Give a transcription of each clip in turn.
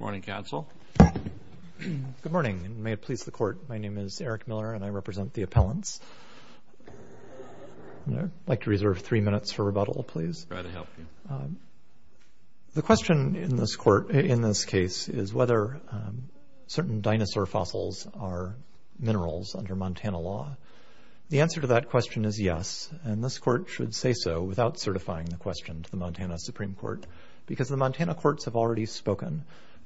Good morning, and may it please the Court, my name is Eric Miller and I represent the appellants. I'd like to reserve three minutes for rebuttal, please. The question in this case is whether certain dinosaur fossils are minerals under Montana law. The answer to that question is yes, and this Court should say so without certifying the question to the Court.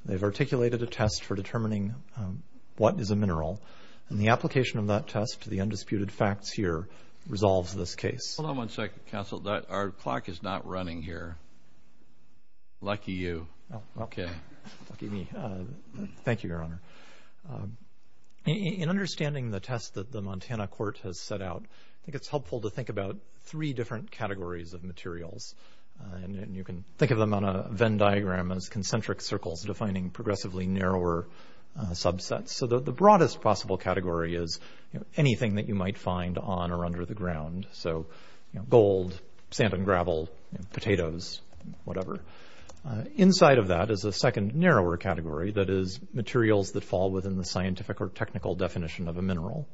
They've articulated a test for determining what is a mineral, and the application of that test to the undisputed facts here resolves this case. Hold on one second, counsel. Our clock is not running here. Lucky you. Okay. Lucky me. Thank you, Your Honor. In understanding the test that the Montana Court has set out, I think it's helpful to think about three different categories of materials. You can think of them on a Venn diagram as concentric circles defining progressively narrower subsets. So the broadest possible category is anything that you might find on or under the ground. So gold, sand and gravel, potatoes, whatever. Inside of that is a second narrower category that is materials that fall within the scientific or technical definition of a mineral.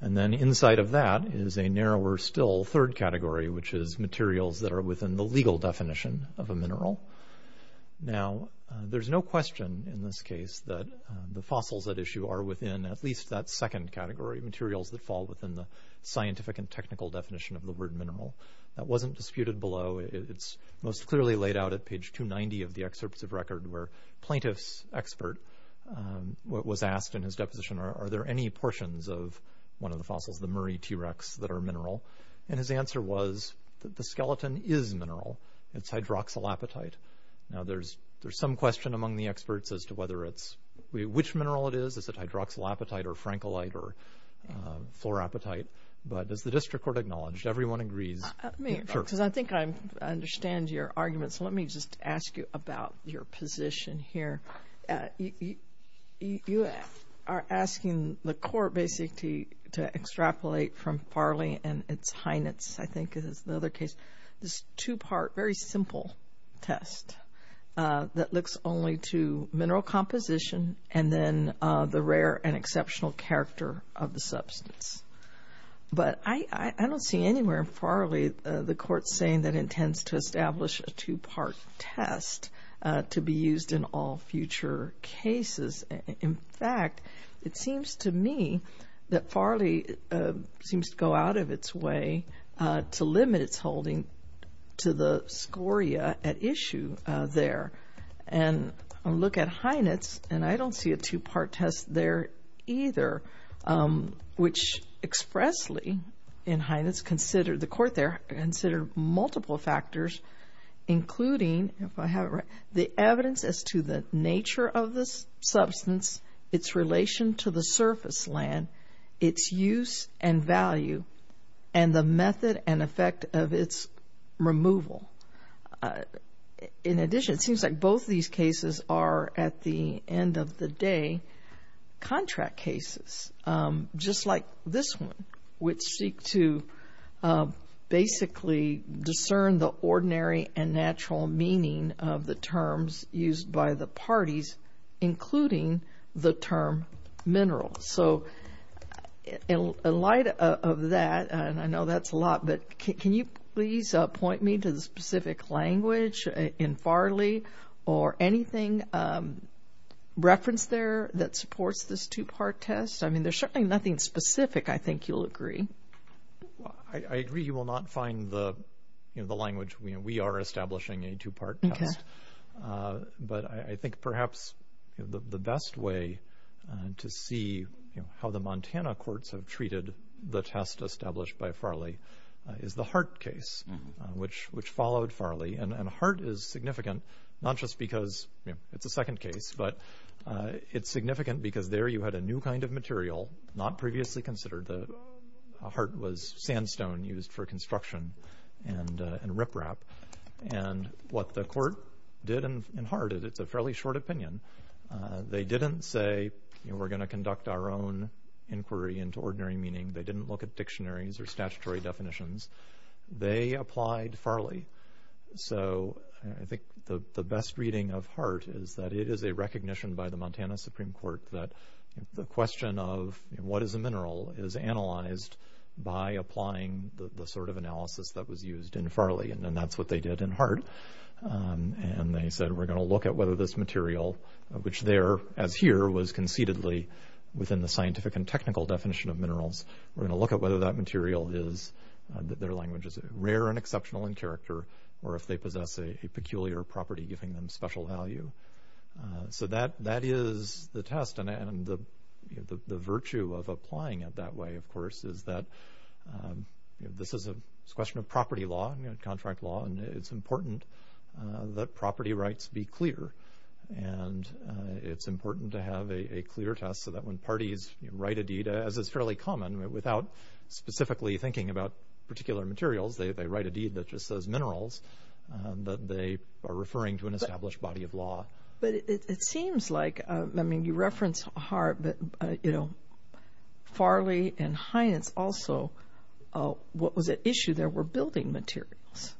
And then inside of that is a narrower still third category, which is materials that are within the legal definition of a mineral. Now there's no question in this case that the fossils at issue are within at least that second category, materials that fall within the scientific and technical definition of the word mineral. That wasn't disputed below. It's most clearly laid out at page 290 of the excerpts of record where plaintiff's expert was asked in his portions of one of the fossils, the Murray T-Rex, that are mineral. And his answer was that the skeleton is mineral. It's hydroxylapatite. Now there's some question among the experts as to which mineral it is. Is it hydroxylapatite or francolite or fluorapatite? But as the district court acknowledged, everyone agrees. Let me, because I think I understand your argument. So let me just ask you about your position here. You are asking the court basically to extrapolate from Farley and its Heinitz, I think is the other case, this two-part, very simple test that looks only to mineral composition and then the rare and exceptional character of the substance. But I don't see anywhere in Farley the court saying that intends to establish a two-part test to be used in all future cases. In fact, it seems to me that Farley seems to go out of its way to limit its holding to the scoria at issue there. And look at Heinitz, and I don't see a two-part test there either, which expressly in Heinitz considered, the court there considered multiple factors, including, if I have it right, the evidence as to the nature of this substance, its relation to the surface land, its use and value, and the method and effect of its removal. In addition, it seems like both these cases are, at the end of the day, contract cases, just like this one, which seek to basically discern the ordinary and natural meaning of the terms used by the parties, including the term mineral. So in light of that, and I know that's a lot, but can you please point me to the or anything referenced there that supports this two-part test? I mean, there's certainly nothing specific, I think you'll agree. Well, I agree you will not find the language. We are establishing a two-part test, but I think perhaps the best way to see how the Montana courts have treated the test established by Farley is the Hart case, which followed Farley. And Hart is significant, not just because it's a second case, but it's significant because there you had a new kind of material not previously considered. Hart was sandstone used for construction and riprap. And what the court did in Hart, it's a fairly short opinion, they didn't say, you know, we're going to conduct our own inquiry into ordinary meaning. They didn't look at dictionaries or statutory definitions. They applied Farley. So I think the best reading of Hart is that it is a recognition by the Montana Supreme Court that the question of what is a mineral is analyzed by applying the sort of analysis that was used in Farley. And then that's what they did in Hart. And they said, we're going to look at whether this material, which there as here was concededly within the scientific and technical definition of minerals, we're going to look at whether that their language is rare and exceptional in character, or if they possess a peculiar property, giving them special value. So that is the test. And the virtue of applying it that way, of course, is that this is a question of property law, contract law, and it's important that property rights be clear. And it's important to have a clear test so that when parties write a deed, as is fairly common, without specifically thinking about particular materials, they write a deed that just says minerals, that they are referring to an established body of law. But it seems like, I mean, you reference Hart, but, you know, Farley and Heintz also, what was at issue there were building materials.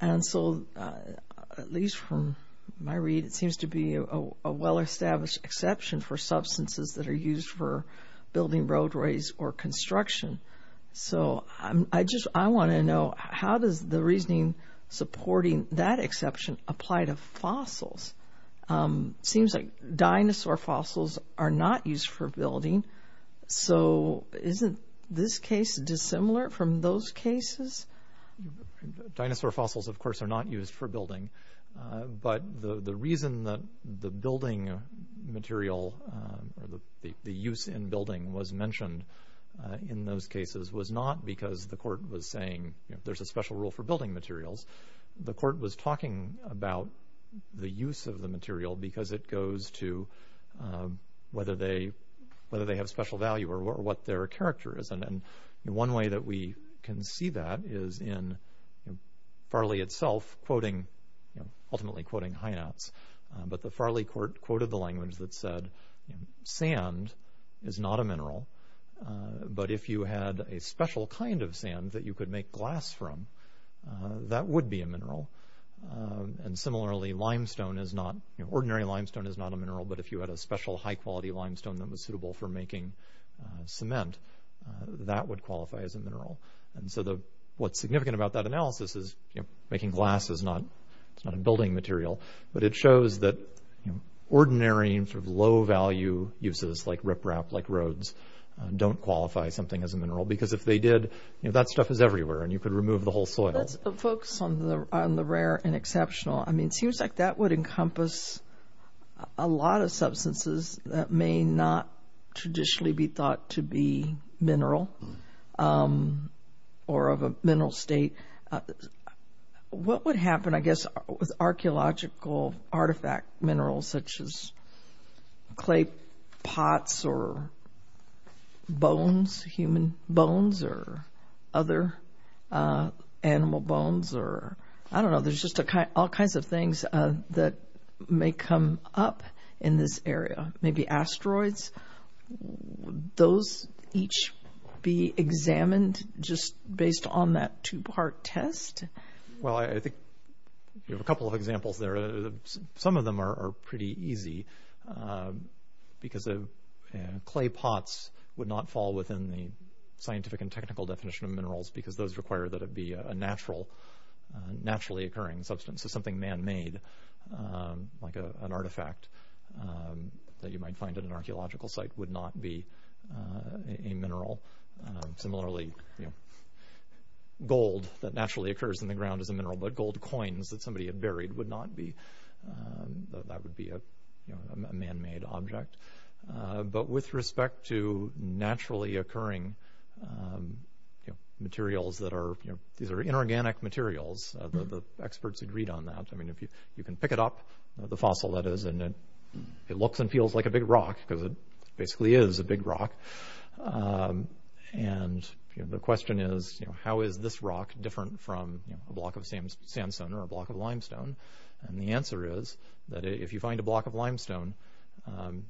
And so, at least from my read, it seems to be a well-established exception for substances that are used for building roadways or construction. So I just, I want to know, how does the reasoning supporting that exception apply to fossils? Seems like dinosaur fossils are not used for building. So isn't this case dissimilar from those cases? Dinosaur fossils, of course, are not used for building. But the reason that the building material, or the use in building, was mentioned in those cases was not because the court was saying, you know, there's a special rule for building materials. The court was talking about the use of the material because it goes to whether they have special value or what their character is. And one way that we can see that is in Farley itself, ultimately quoting Heintz. But the Farley court quoted the language that said, sand is not a mineral. But if you had a special kind of sand that you could make glass from, that would be a mineral. And similarly, limestone is not, ordinary limestone is not a mineral. But if you had a special high quality limestone that was suitable for making cement, that would qualify as a mineral. And so what's significant about that analysis is, you know, making glass is not, it's not a building material, but it shows that, you know, ordinary sort of low value uses like riprap, like Rhodes, don't qualify something as a mineral. Because if they did, you know, that stuff is everywhere and you could remove the whole soil. That's a focus on the rare and exceptional. I mean, it seems like that would encompass a lot of substances that may not traditionally be thought to be mineral or of a mineral state. What would happen, I guess, with archeological artifact minerals, such as clay pots or bones, human bones or other animal bones, or I don't know, there's just all kinds of things that may come up in this area, maybe asteroids, those each be examined just based on that two-part test? Well, I think you have a couple of examples there. Some of them are pretty easy because clay pots would not fall within the scientific and technical definition of minerals because those require that it be a naturally occurring substance. So something man-made, like an artifact that you might find at an archeological site, would not be a mineral. Similarly, gold that naturally occurs in the ground as a mineral, but gold coins that somebody had buried would not be, that would be a man-made object. But with respect to naturally occurring materials that are, these are inorganic materials. The experts agreed on that. I mean, you can pick it up, the fossil that is, and it looks and feels like a big rock because it basically is a big rock. And the question is, how is this rock different from a block of sandstone or a block of limestone? And the answer is that if you find a block of limestone,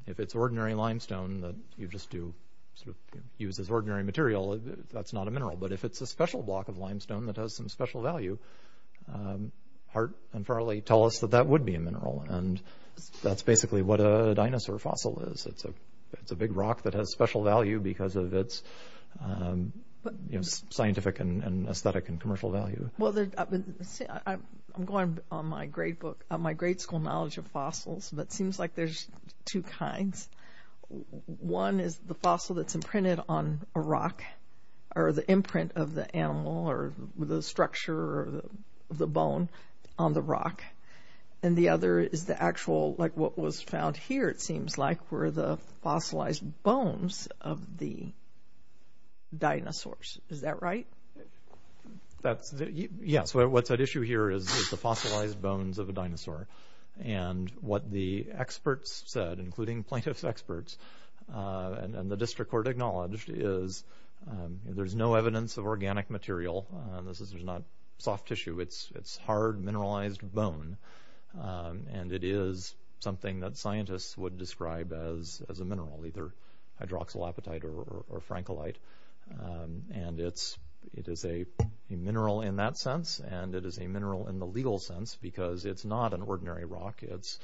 if it's ordinary limestone that you just do sort of use as ordinary material, that's not a mineral. But if it's a special block of limestone that has some special value, Hart and Farley tell us that that would be a mineral. And that's basically what a dinosaur fossil is. It's a big rock that has special value because of its scientific and aesthetic and commercial value. Well, I'm going on my grade book, my grade school knowledge of fossils, but it seems like there's two kinds. One is the fossil that's imprinted on a rock or the imprint of the animal or the structure of the bone on the rock. And the other is the actual, like what was found here, it seems like were the fossilized bones of the dinosaurs. Is that right? Yeah. So what's at issue here is the fossilized bones of a dinosaur. And what the experts said, including plaintiff's experts and the district court acknowledged is there's no evidence of organic material. This is not soft tissue. It's hard mineralized bone. And it is something that is a mineral in that sense. And it is a mineral in the legal sense because it's not an ordinary rock. It's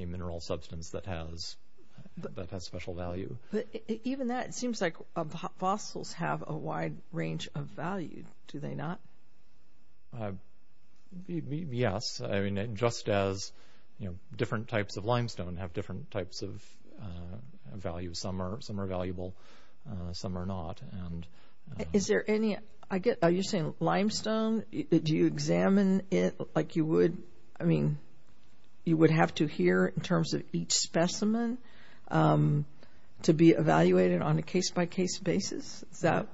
a mineral substance that has special value. But even that, it seems like fossils have a wide range of value. Do they not? Yes. I mean, just as different types of limestone have different types of value. Some are valuable, some are not. Are you saying limestone, do you examine it like you would? I mean, you would have to hear in terms of each specimen to be evaluated on a case-by-case basis. Is that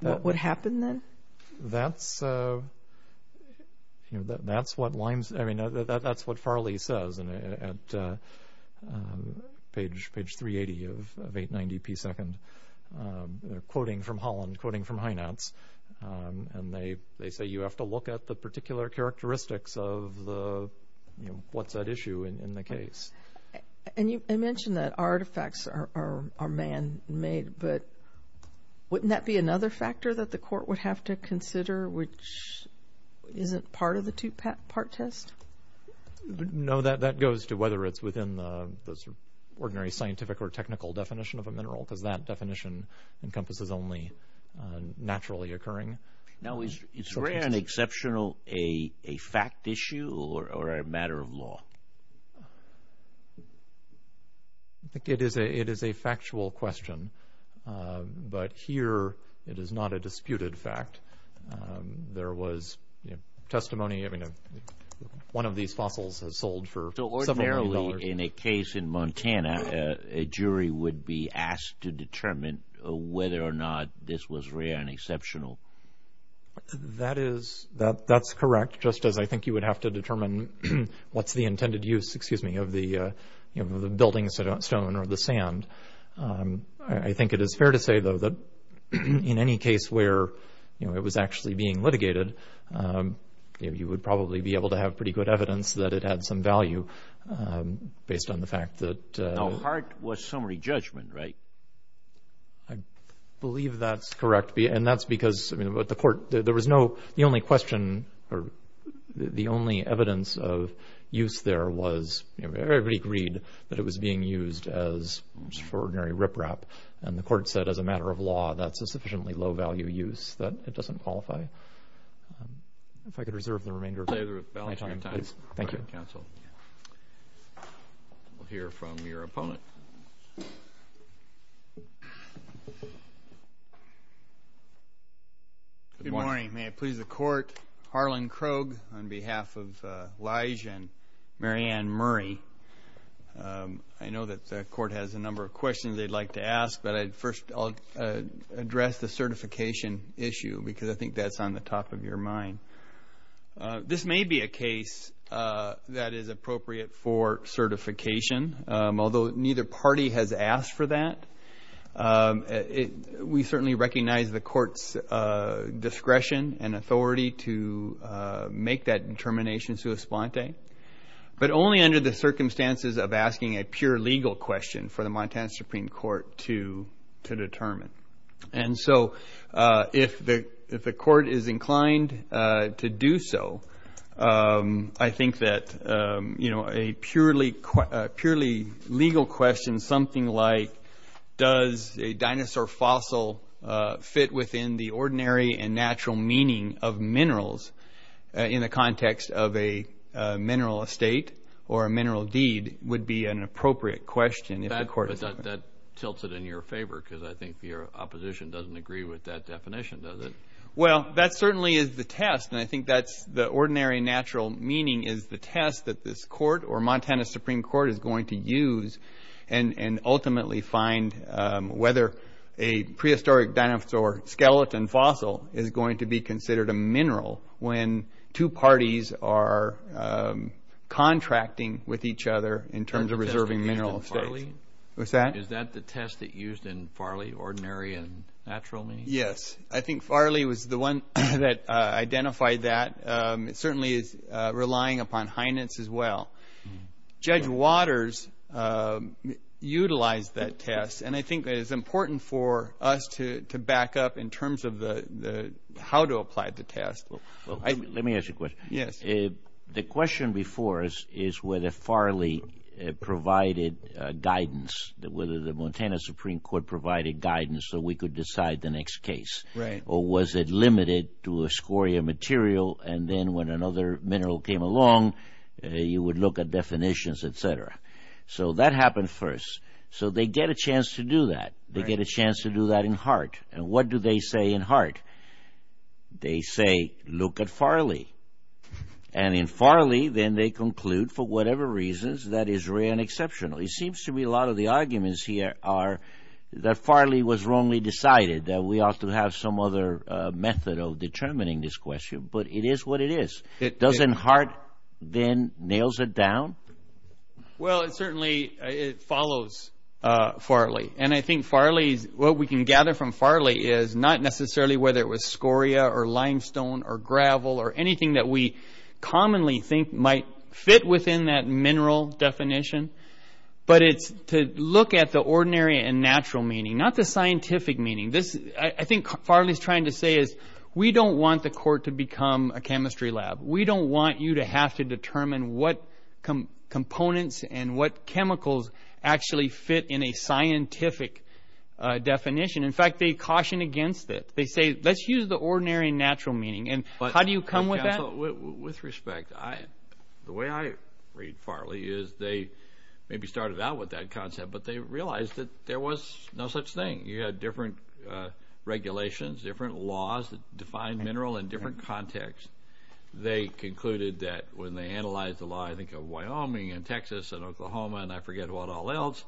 what would happen then? That's what Farley says at page 380 of 890p2. They're quoting from Holland, quoting from Heinatz. And they say you have to look at the particular characteristics of what's at issue in the case. And you mentioned that artifacts are man-made, but wouldn't that be another factor that the court would have to consider, which isn't part of the two-part test? No, that goes to whether it's within the ordinary scientific or technical definition of a mineral because that definition encompasses only naturally occurring. Now, is rare and exceptional a fact issue or a matter of law? I think it is a factual question, but here it is not a disputed fact. There was testimony, I mean, one of these fossils has sold for several million dollars. So ordinarily in a case in Montana, a jury would be asked to determine whether or not this was rare and exceptional? That is correct, just as I think you would have to determine what's the intended use, excuse me, of the building stone or the sand. I think it is fair to say, though, that in any case where it was actually being litigated, you would probably be able to have pretty good evidence that it had some value based on the fact that... Now, Hart was summary judgment, right? I believe that's correct, and that's because, I mean, but the court, there was no, the only question or the only evidence of use there was everybody agreed that it was being used as ordinary riprap. And the court said as a matter of law, that's a sufficiently low value use, that it doesn't qualify. If I could reserve the remainder of my time, please. Thank you, counsel. We'll hear from your opponent. Good morning. May I please the court? Harlan Krogh on behalf of Lige and Mary Ann Murray. I know that the court has a number of questions they'd like to ask, but I'd first, I'll address the certification issue because I think that's on the top of your mind. This may be a case that is appropriate for certification, although neither party has asked for that. We certainly recognize the court's discretion and authority to make that determination sui splante, but only under the circumstances of asking a pure legal question for the Montana Supreme Court to determine. And so if the court is inclined to do so, I think that a purely legal question, something like, does a dinosaur fossil fit within the ordinary and natural meaning of minerals in the context of a mineral estate or a mineral deed, would be an appropriate question. That tilts it in your favor because I think your opposition doesn't agree with that definition, does it? Well, that certainly is the test, and I think that's the ordinary natural meaning is the test that this court or Montana Supreme Court is going to use and ultimately find whether a prehistoric dinosaur skeleton fossil is going to be considered a in terms of reserving mineral estate. Is that the test that used in Farley, ordinary and natural meaning? Yes. I think Farley was the one that identified that. It certainly is relying upon Heinen's as well. Judge Waters utilized that test, and I think that it's important for us to back up in terms of how to apply the test. Let me ask you a question. The question before us is whether Farley provided guidance, whether the Montana Supreme Court provided guidance so we could decide the next case, or was it limited to a scoria material, and then when another mineral came along, you would look at definitions, etc. That happened first. They get a chance to do that. They get a chance to do that in Hart. What do they say in Farley? Then they conclude, for whatever reasons, that is rare and exceptional. It seems to me a lot of the arguments here are that Farley was wrongly decided, that we ought to have some other method of determining this question, but it is what it is. Doesn't Hart then nails it down? Well, it certainly follows Farley, and I think what we can gather from Farley is not necessarily whether it was scoria or limestone or gravel or anything that we commonly think might fit within that mineral definition, but it's to look at the ordinary and natural meaning, not the scientific meaning. I think what Farley is trying to say is we don't want the court to become a chemistry lab. We don't want you to have to determine what components and what chemicals actually fit in a ordinary and natural meaning. How do you come with that? With respect, the way I read Farley is they maybe started out with that concept, but they realized that there was no such thing. You had different regulations, different laws that define mineral in different contexts. They concluded that when they analyzed the law of Wyoming and Texas and Oklahoma and I forget what all else,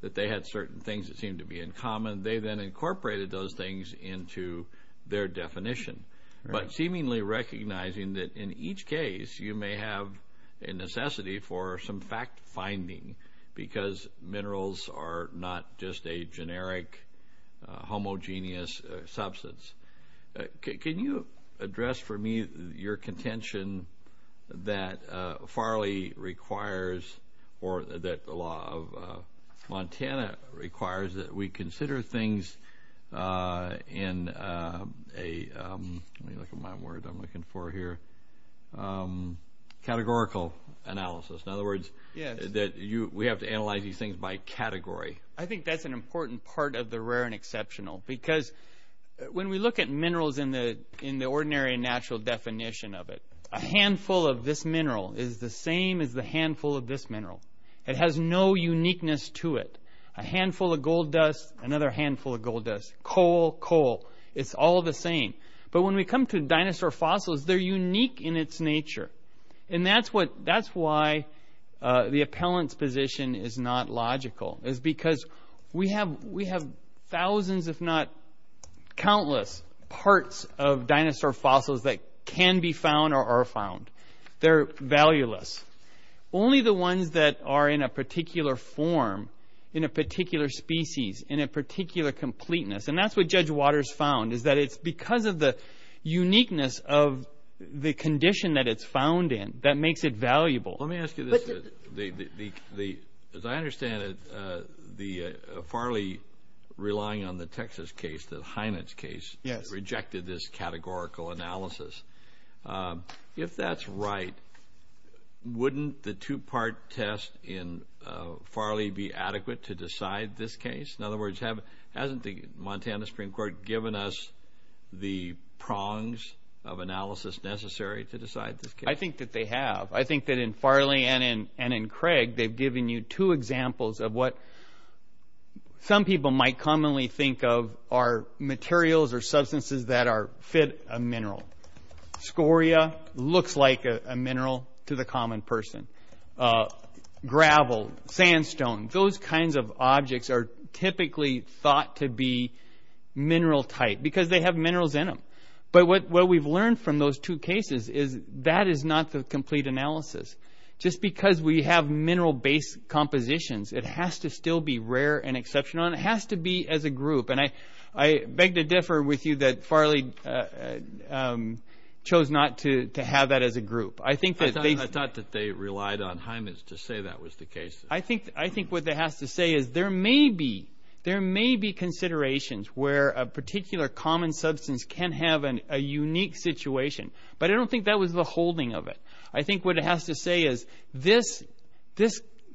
that they had certain things that seemed to be in common. They then incorporated those things into their definition, but seemingly recognizing that in each case you may have a necessity for some fact finding because minerals are not just a generic homogeneous substance. Can you address for me your contention that Farley requires or that the law of Montana requires that we consider things in a, let me look at my word I'm looking for here, categorical analysis. In other words, we have to analyze these things by category. I think that's an important part of the rare and exceptional because when we look at minerals in the ordinary and natural definition of it, a handful of this mineral is the same as the handful of this mineral. It has no uniqueness to it. A handful of gold dust, another handful of gold dust. Coal, coal, it's all the same. But when we come to dinosaur fossils, they're unique in its nature. That's why the appellant's not logical. It's because we have thousands if not countless parts of dinosaur fossils that can be found or are found. They're valueless. Only the ones that are in a particular form, in a particular species, in a particular completeness, and that's what Judge Waters found is that it's because of the uniqueness of the condition that it's found in that makes it valuable. Let me ask you this. As I understand it, Farley, relying on the Texas case, the Heinitz case, rejected this categorical analysis. If that's right, wouldn't the two-part test in Farley be adequate to decide this case? In other words, hasn't the Montana Supreme Court given us the prongs of analysis necessary to decide this case? I think that they have. I think that in Farley and in Craig, they've given you two examples of what some people might commonly think of are materials or substances that fit a mineral. Scoria looks like a mineral to the common person. Gravel, sandstone, those kinds of objects are typically thought to be mineral type because they have minerals in them. What we've learned from those two cases is that is not the complete analysis. Just because we have mineral-based compositions, it has to still be rare and exceptional. It has to be as a group. I beg to differ with you that Farley chose not to have that as a group. I thought that they relied on Heinitz to say that was the case. I think what that has to say is there may be considerations where a particular common substance can have a unique situation, but I don't think that was the holding of it. I think what it has to say is this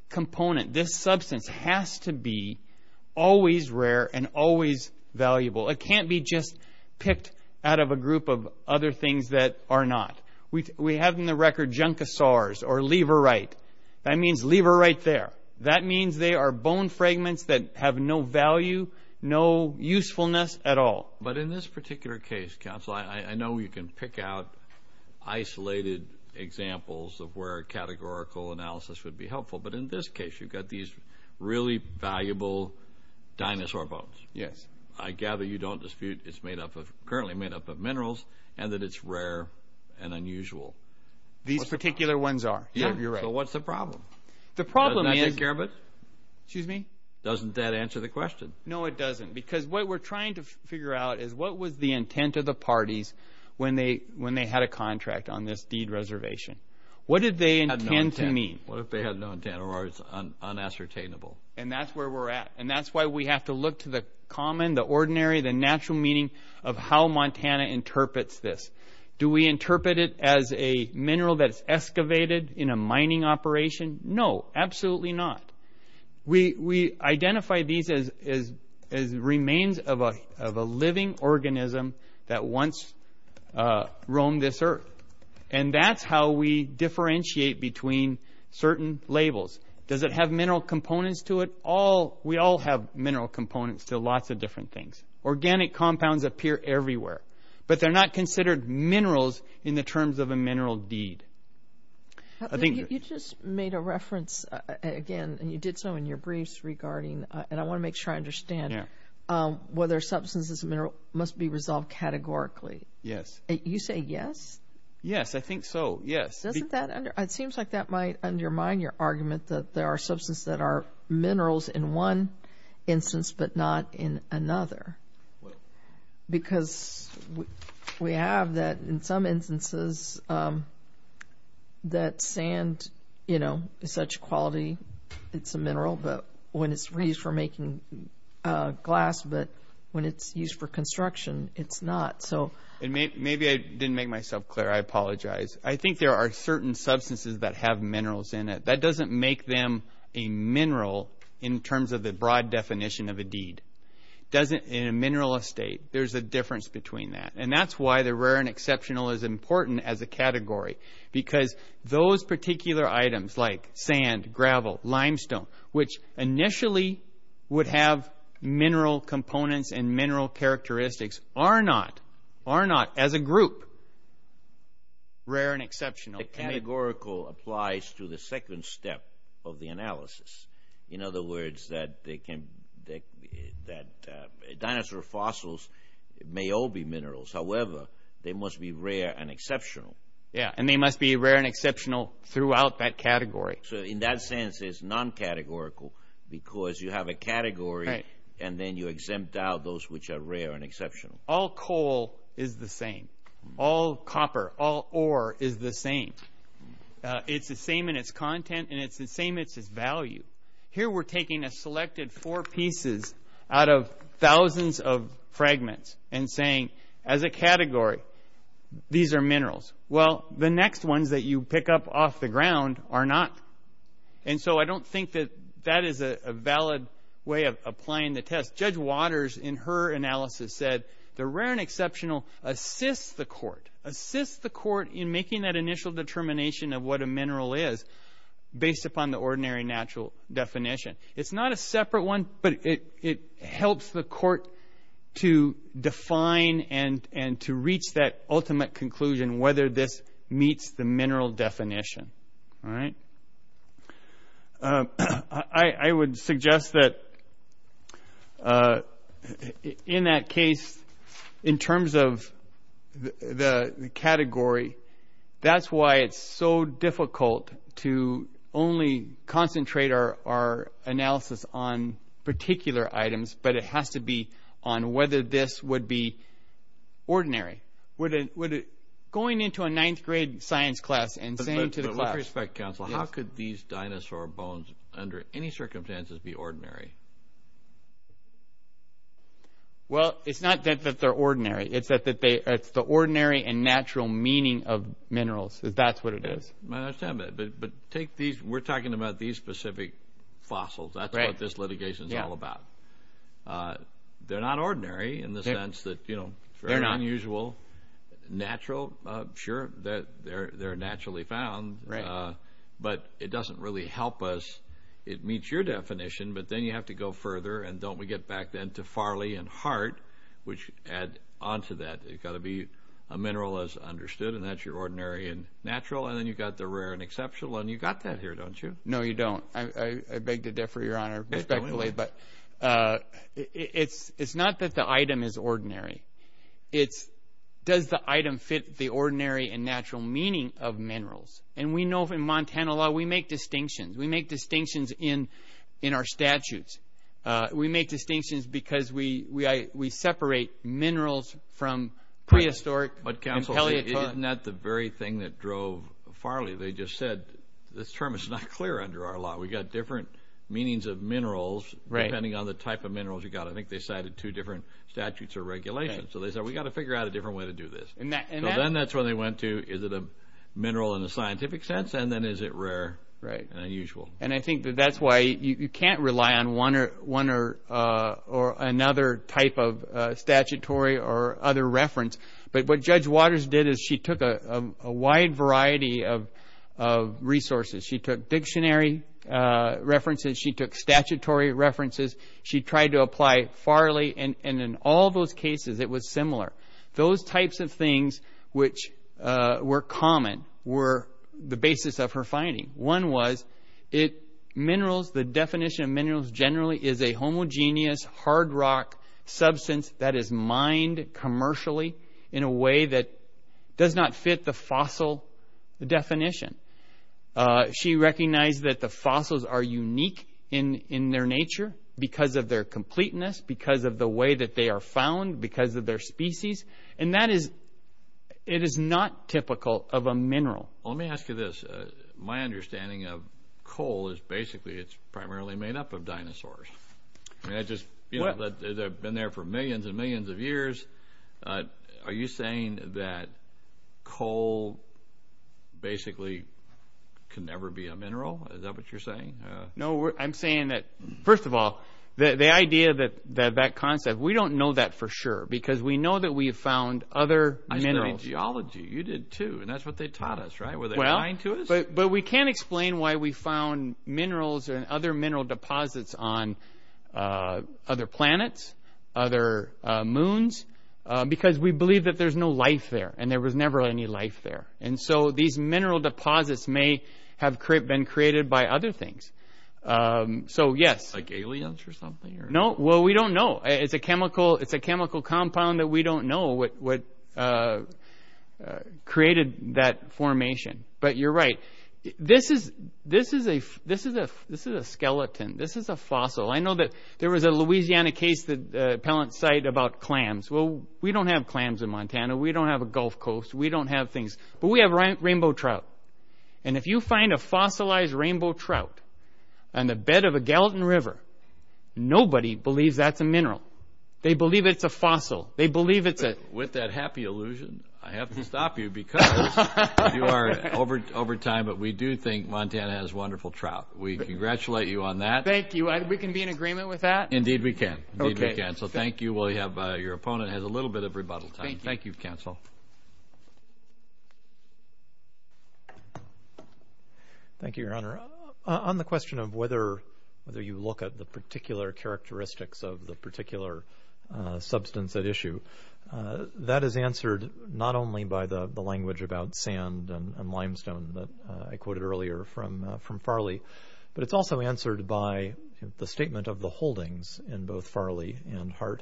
component, this substance has to be always rare and always valuable. It can't be just picked out of a group of other things that are not. We have in the record juncosaurs or leverite. That means leverite there. That means they are bone fragments that have no value, no usefulness at all. But in this particular case, counsel, I know you can pick out isolated examples of where categorical analysis would be helpful, but in this case you've got these really valuable dinosaur bones. Yes. I gather you don't dispute it's currently made up of minerals and that it's rare and unusual. These particular ones are. Yeah, you're right. So what's the problem? The problem is... Doesn't that answer the question? No, it doesn't. Because what we're trying to figure out is what was the intent of the parties when they had a contract on this deed reservation? What did they intend to mean? What if they had no intent or it's unassertainable? And that's where we're at. And that's why we have to look to the common, the ordinary, the natural meaning of how Montana interprets this. Do we interpret it as a mineral that's excavated in a mining operation? No, absolutely not. We identify these as remains of a living organism that once roamed this earth. And that's how we differentiate between certain labels. Does it have mineral components to it? We all have mineral components to lots of different things. Organic compounds appear everywhere, but they're not considered minerals in the terms of a mineral deed. You just made a reference again, and you did so in your briefs regarding, and I want to make sure I understand, whether substances and mineral must be resolved categorically. Yes. You say yes? Yes, I think so. Yes. Doesn't that, it seems like that might undermine your argument that there are substances that are minerals in one instance, but not in another. Because we have that in some instances, that sand, you know, is such quality, it's a mineral, but when it's used for making glass, but when it's used for construction, it's not. So maybe I didn't make myself clear. I apologize. I think there are certain substances that have minerals in it. That doesn't make them a mineral in terms of the broad definition of a deed. Doesn't, in a mineral estate, there's a difference between that. And that's why the rare and exceptional is important as a category. Because those particular items, like sand, gravel, limestone, which initially would have mineral components and mineral characteristics, are not, are not, as a group, rare and exceptional. Categorical applies to the second step of the analysis. In other words, that they can, that dinosaur fossils may all be minerals. However, they must be rare and exceptional. Yeah, and they must be rare and exceptional throughout that category. So in that sense, it's non-categorical, because you have a category, and then you exempt out those which are rare and exceptional. All coal is the same. All copper, all ore is the same. It's the same in its content, and it's the same in its value. Here we're taking a selected four pieces out of thousands of fragments and saying, as a category, these are minerals. Well, the next ones that you pick up off the ground are not. And so I don't think that that is a valid way of applying the analysis. The rare and exceptional assists the court, assists the court in making that initial determination of what a mineral is, based upon the ordinary natural definition. It's not a separate one, but it helps the court to define and to reach that ultimate conclusion, whether this case, in terms of the category, that's why it's so difficult to only concentrate our analysis on particular items, but it has to be on whether this would be ordinary. Going into a ninth grade science class and saying to the class... With respect, counsel, how could these dinosaur bones, under any Well, it's not that they're ordinary. It's the ordinary and natural meaning of minerals. That's what it is. I understand, but we're talking about these specific fossils. That's what this litigation is all about. They're not ordinary in the sense that they're unusual. Natural, sure, they're naturally found, but it doesn't really help us. It meets your definition, but then you have to go further, and don't we get back then to Farley and Hart, which add onto that. It's got to be a mineral as understood, and that's your ordinary and natural, and then you've got the rare and exceptional, and you've got that here, don't you? No, you don't. I beg to differ, Your Honor, respectfully, but it's not that the item is ordinary. It's does the item fit the ordinary and natural meaning of minerals, and we know in Montana law, we make distinctions. We make distinctions in our statutes. We make distinctions because we separate minerals from prehistoric and Paleozoic. But, counsel, isn't that the very thing that drove Farley? They just said, this term is not clear under our law. We've got different meanings of minerals, depending on the type of minerals you've got. I think they cited two different statutes or regulations, so they said, we've got to figure out a different way to do this. Then that's where they went to, is it a mineral in a scientific sense, and then is it rare and unusual? I think that's why you can't rely on one or another type of statutory or other reference, but what Judge Waters did is she took a wide variety of resources. She took dictionary references. She took statutory references. She tried to apply Farley, and in all those cases, it was similar. Those types of things which were common were the basis of her finding. One was, the definition of minerals generally is a homogeneous, hard rock substance that is mined commercially in a way that does not fit the fossil definition. She recognized that the fossils are unique in their nature because of their completeness, because of the way that they are found, because of their species. It is not typical of a mineral. Let me ask you this. My understanding of coal is basically it's primarily made up of dinosaurs. They've been there for millions and millions of years. Are you saying that coal basically can never be a mineral? Is that what you're saying? No, I'm saying that, first of all, the idea that that concept, we don't know that for sure because we know that we have found other minerals. I studied geology. You did too, and that's what they taught us, right? Were they lying to us? But we can't explain why we found minerals and other mineral deposits on other planets, other moons, because we believe that there's no life there, and there was never any life there, and so these mineral deposits may have been created by other things. Like aliens or something? No, well, we don't know. It's a chemical compound that we don't know what created that formation, but you're right. This is a skeleton. This is a fossil. I know that there was a Louisiana case, the appellant site, about clams. We don't have clams in Montana. We don't have a Gulf Coast. We don't have things, but we have rainbow trout, and if you find a fossilized rainbow trout on the bed of a Gallatin River, nobody believes that's a mineral. They believe it's a fossil. They believe it's a... With that happy illusion, I have to stop you because you are over time, but we do think Montana has wonderful trout. We congratulate you on that. Thank you. We can be in agreement with that? Indeed, we can. Thank you. Your opponent has a little bit of rebuttal time. Thank you, counsel. Thank you, your honor. On the question of whether you look at the particular characteristics of the particular substance at issue, that is answered not only by the language about sand and limestone that I quoted earlier from Farley, but it's also answered by the statement of the holdings in both Farley and Hart.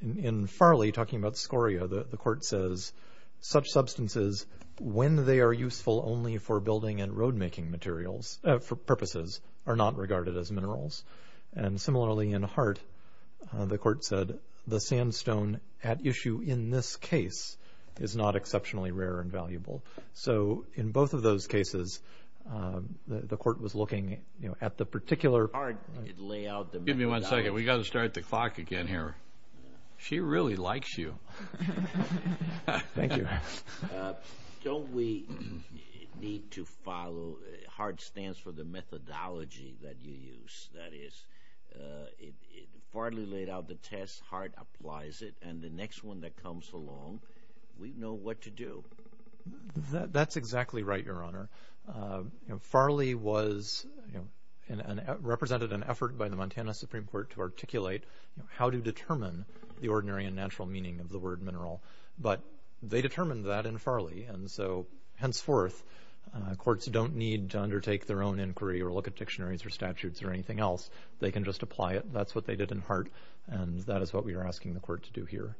In Farley, talking about scoria, the court says, such substances, when they are useful only for building and road-making purposes, are not regarded as minerals. Similarly, in Hart, the court said, the sandstone at issue in this case is not exceptionally rare and valuable. In both of those cases, the court was looking at the particular... Hart laid out the... Give me one second. We got to start the clock again here. She really likes you. Thank you. Don't we need to follow... Hart stands for the methodology that you use. That is, if Farley laid out the test, Hart applies it, and the next one that comes along, we know what to do. That's exactly right, Your Honor. Farley represented an effort by the Montana Supreme Court to articulate how to determine the ordinary and natural meaning of the word mineral, but they determined that in Farley. Henceforth, courts don't need to undertake their own inquiry or look at dictionaries or statutes or anything else. They can just apply it. That's what they did in Hart, and that is what we are asking the court to do here.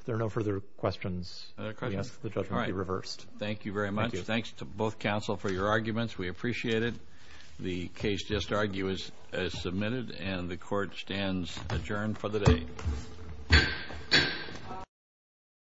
If there are no further questions... All right. Thank you very much. Thanks to both counsel for your arguments. We appreciate it. The case just argued is submitted, and the court stands adjourned for the day.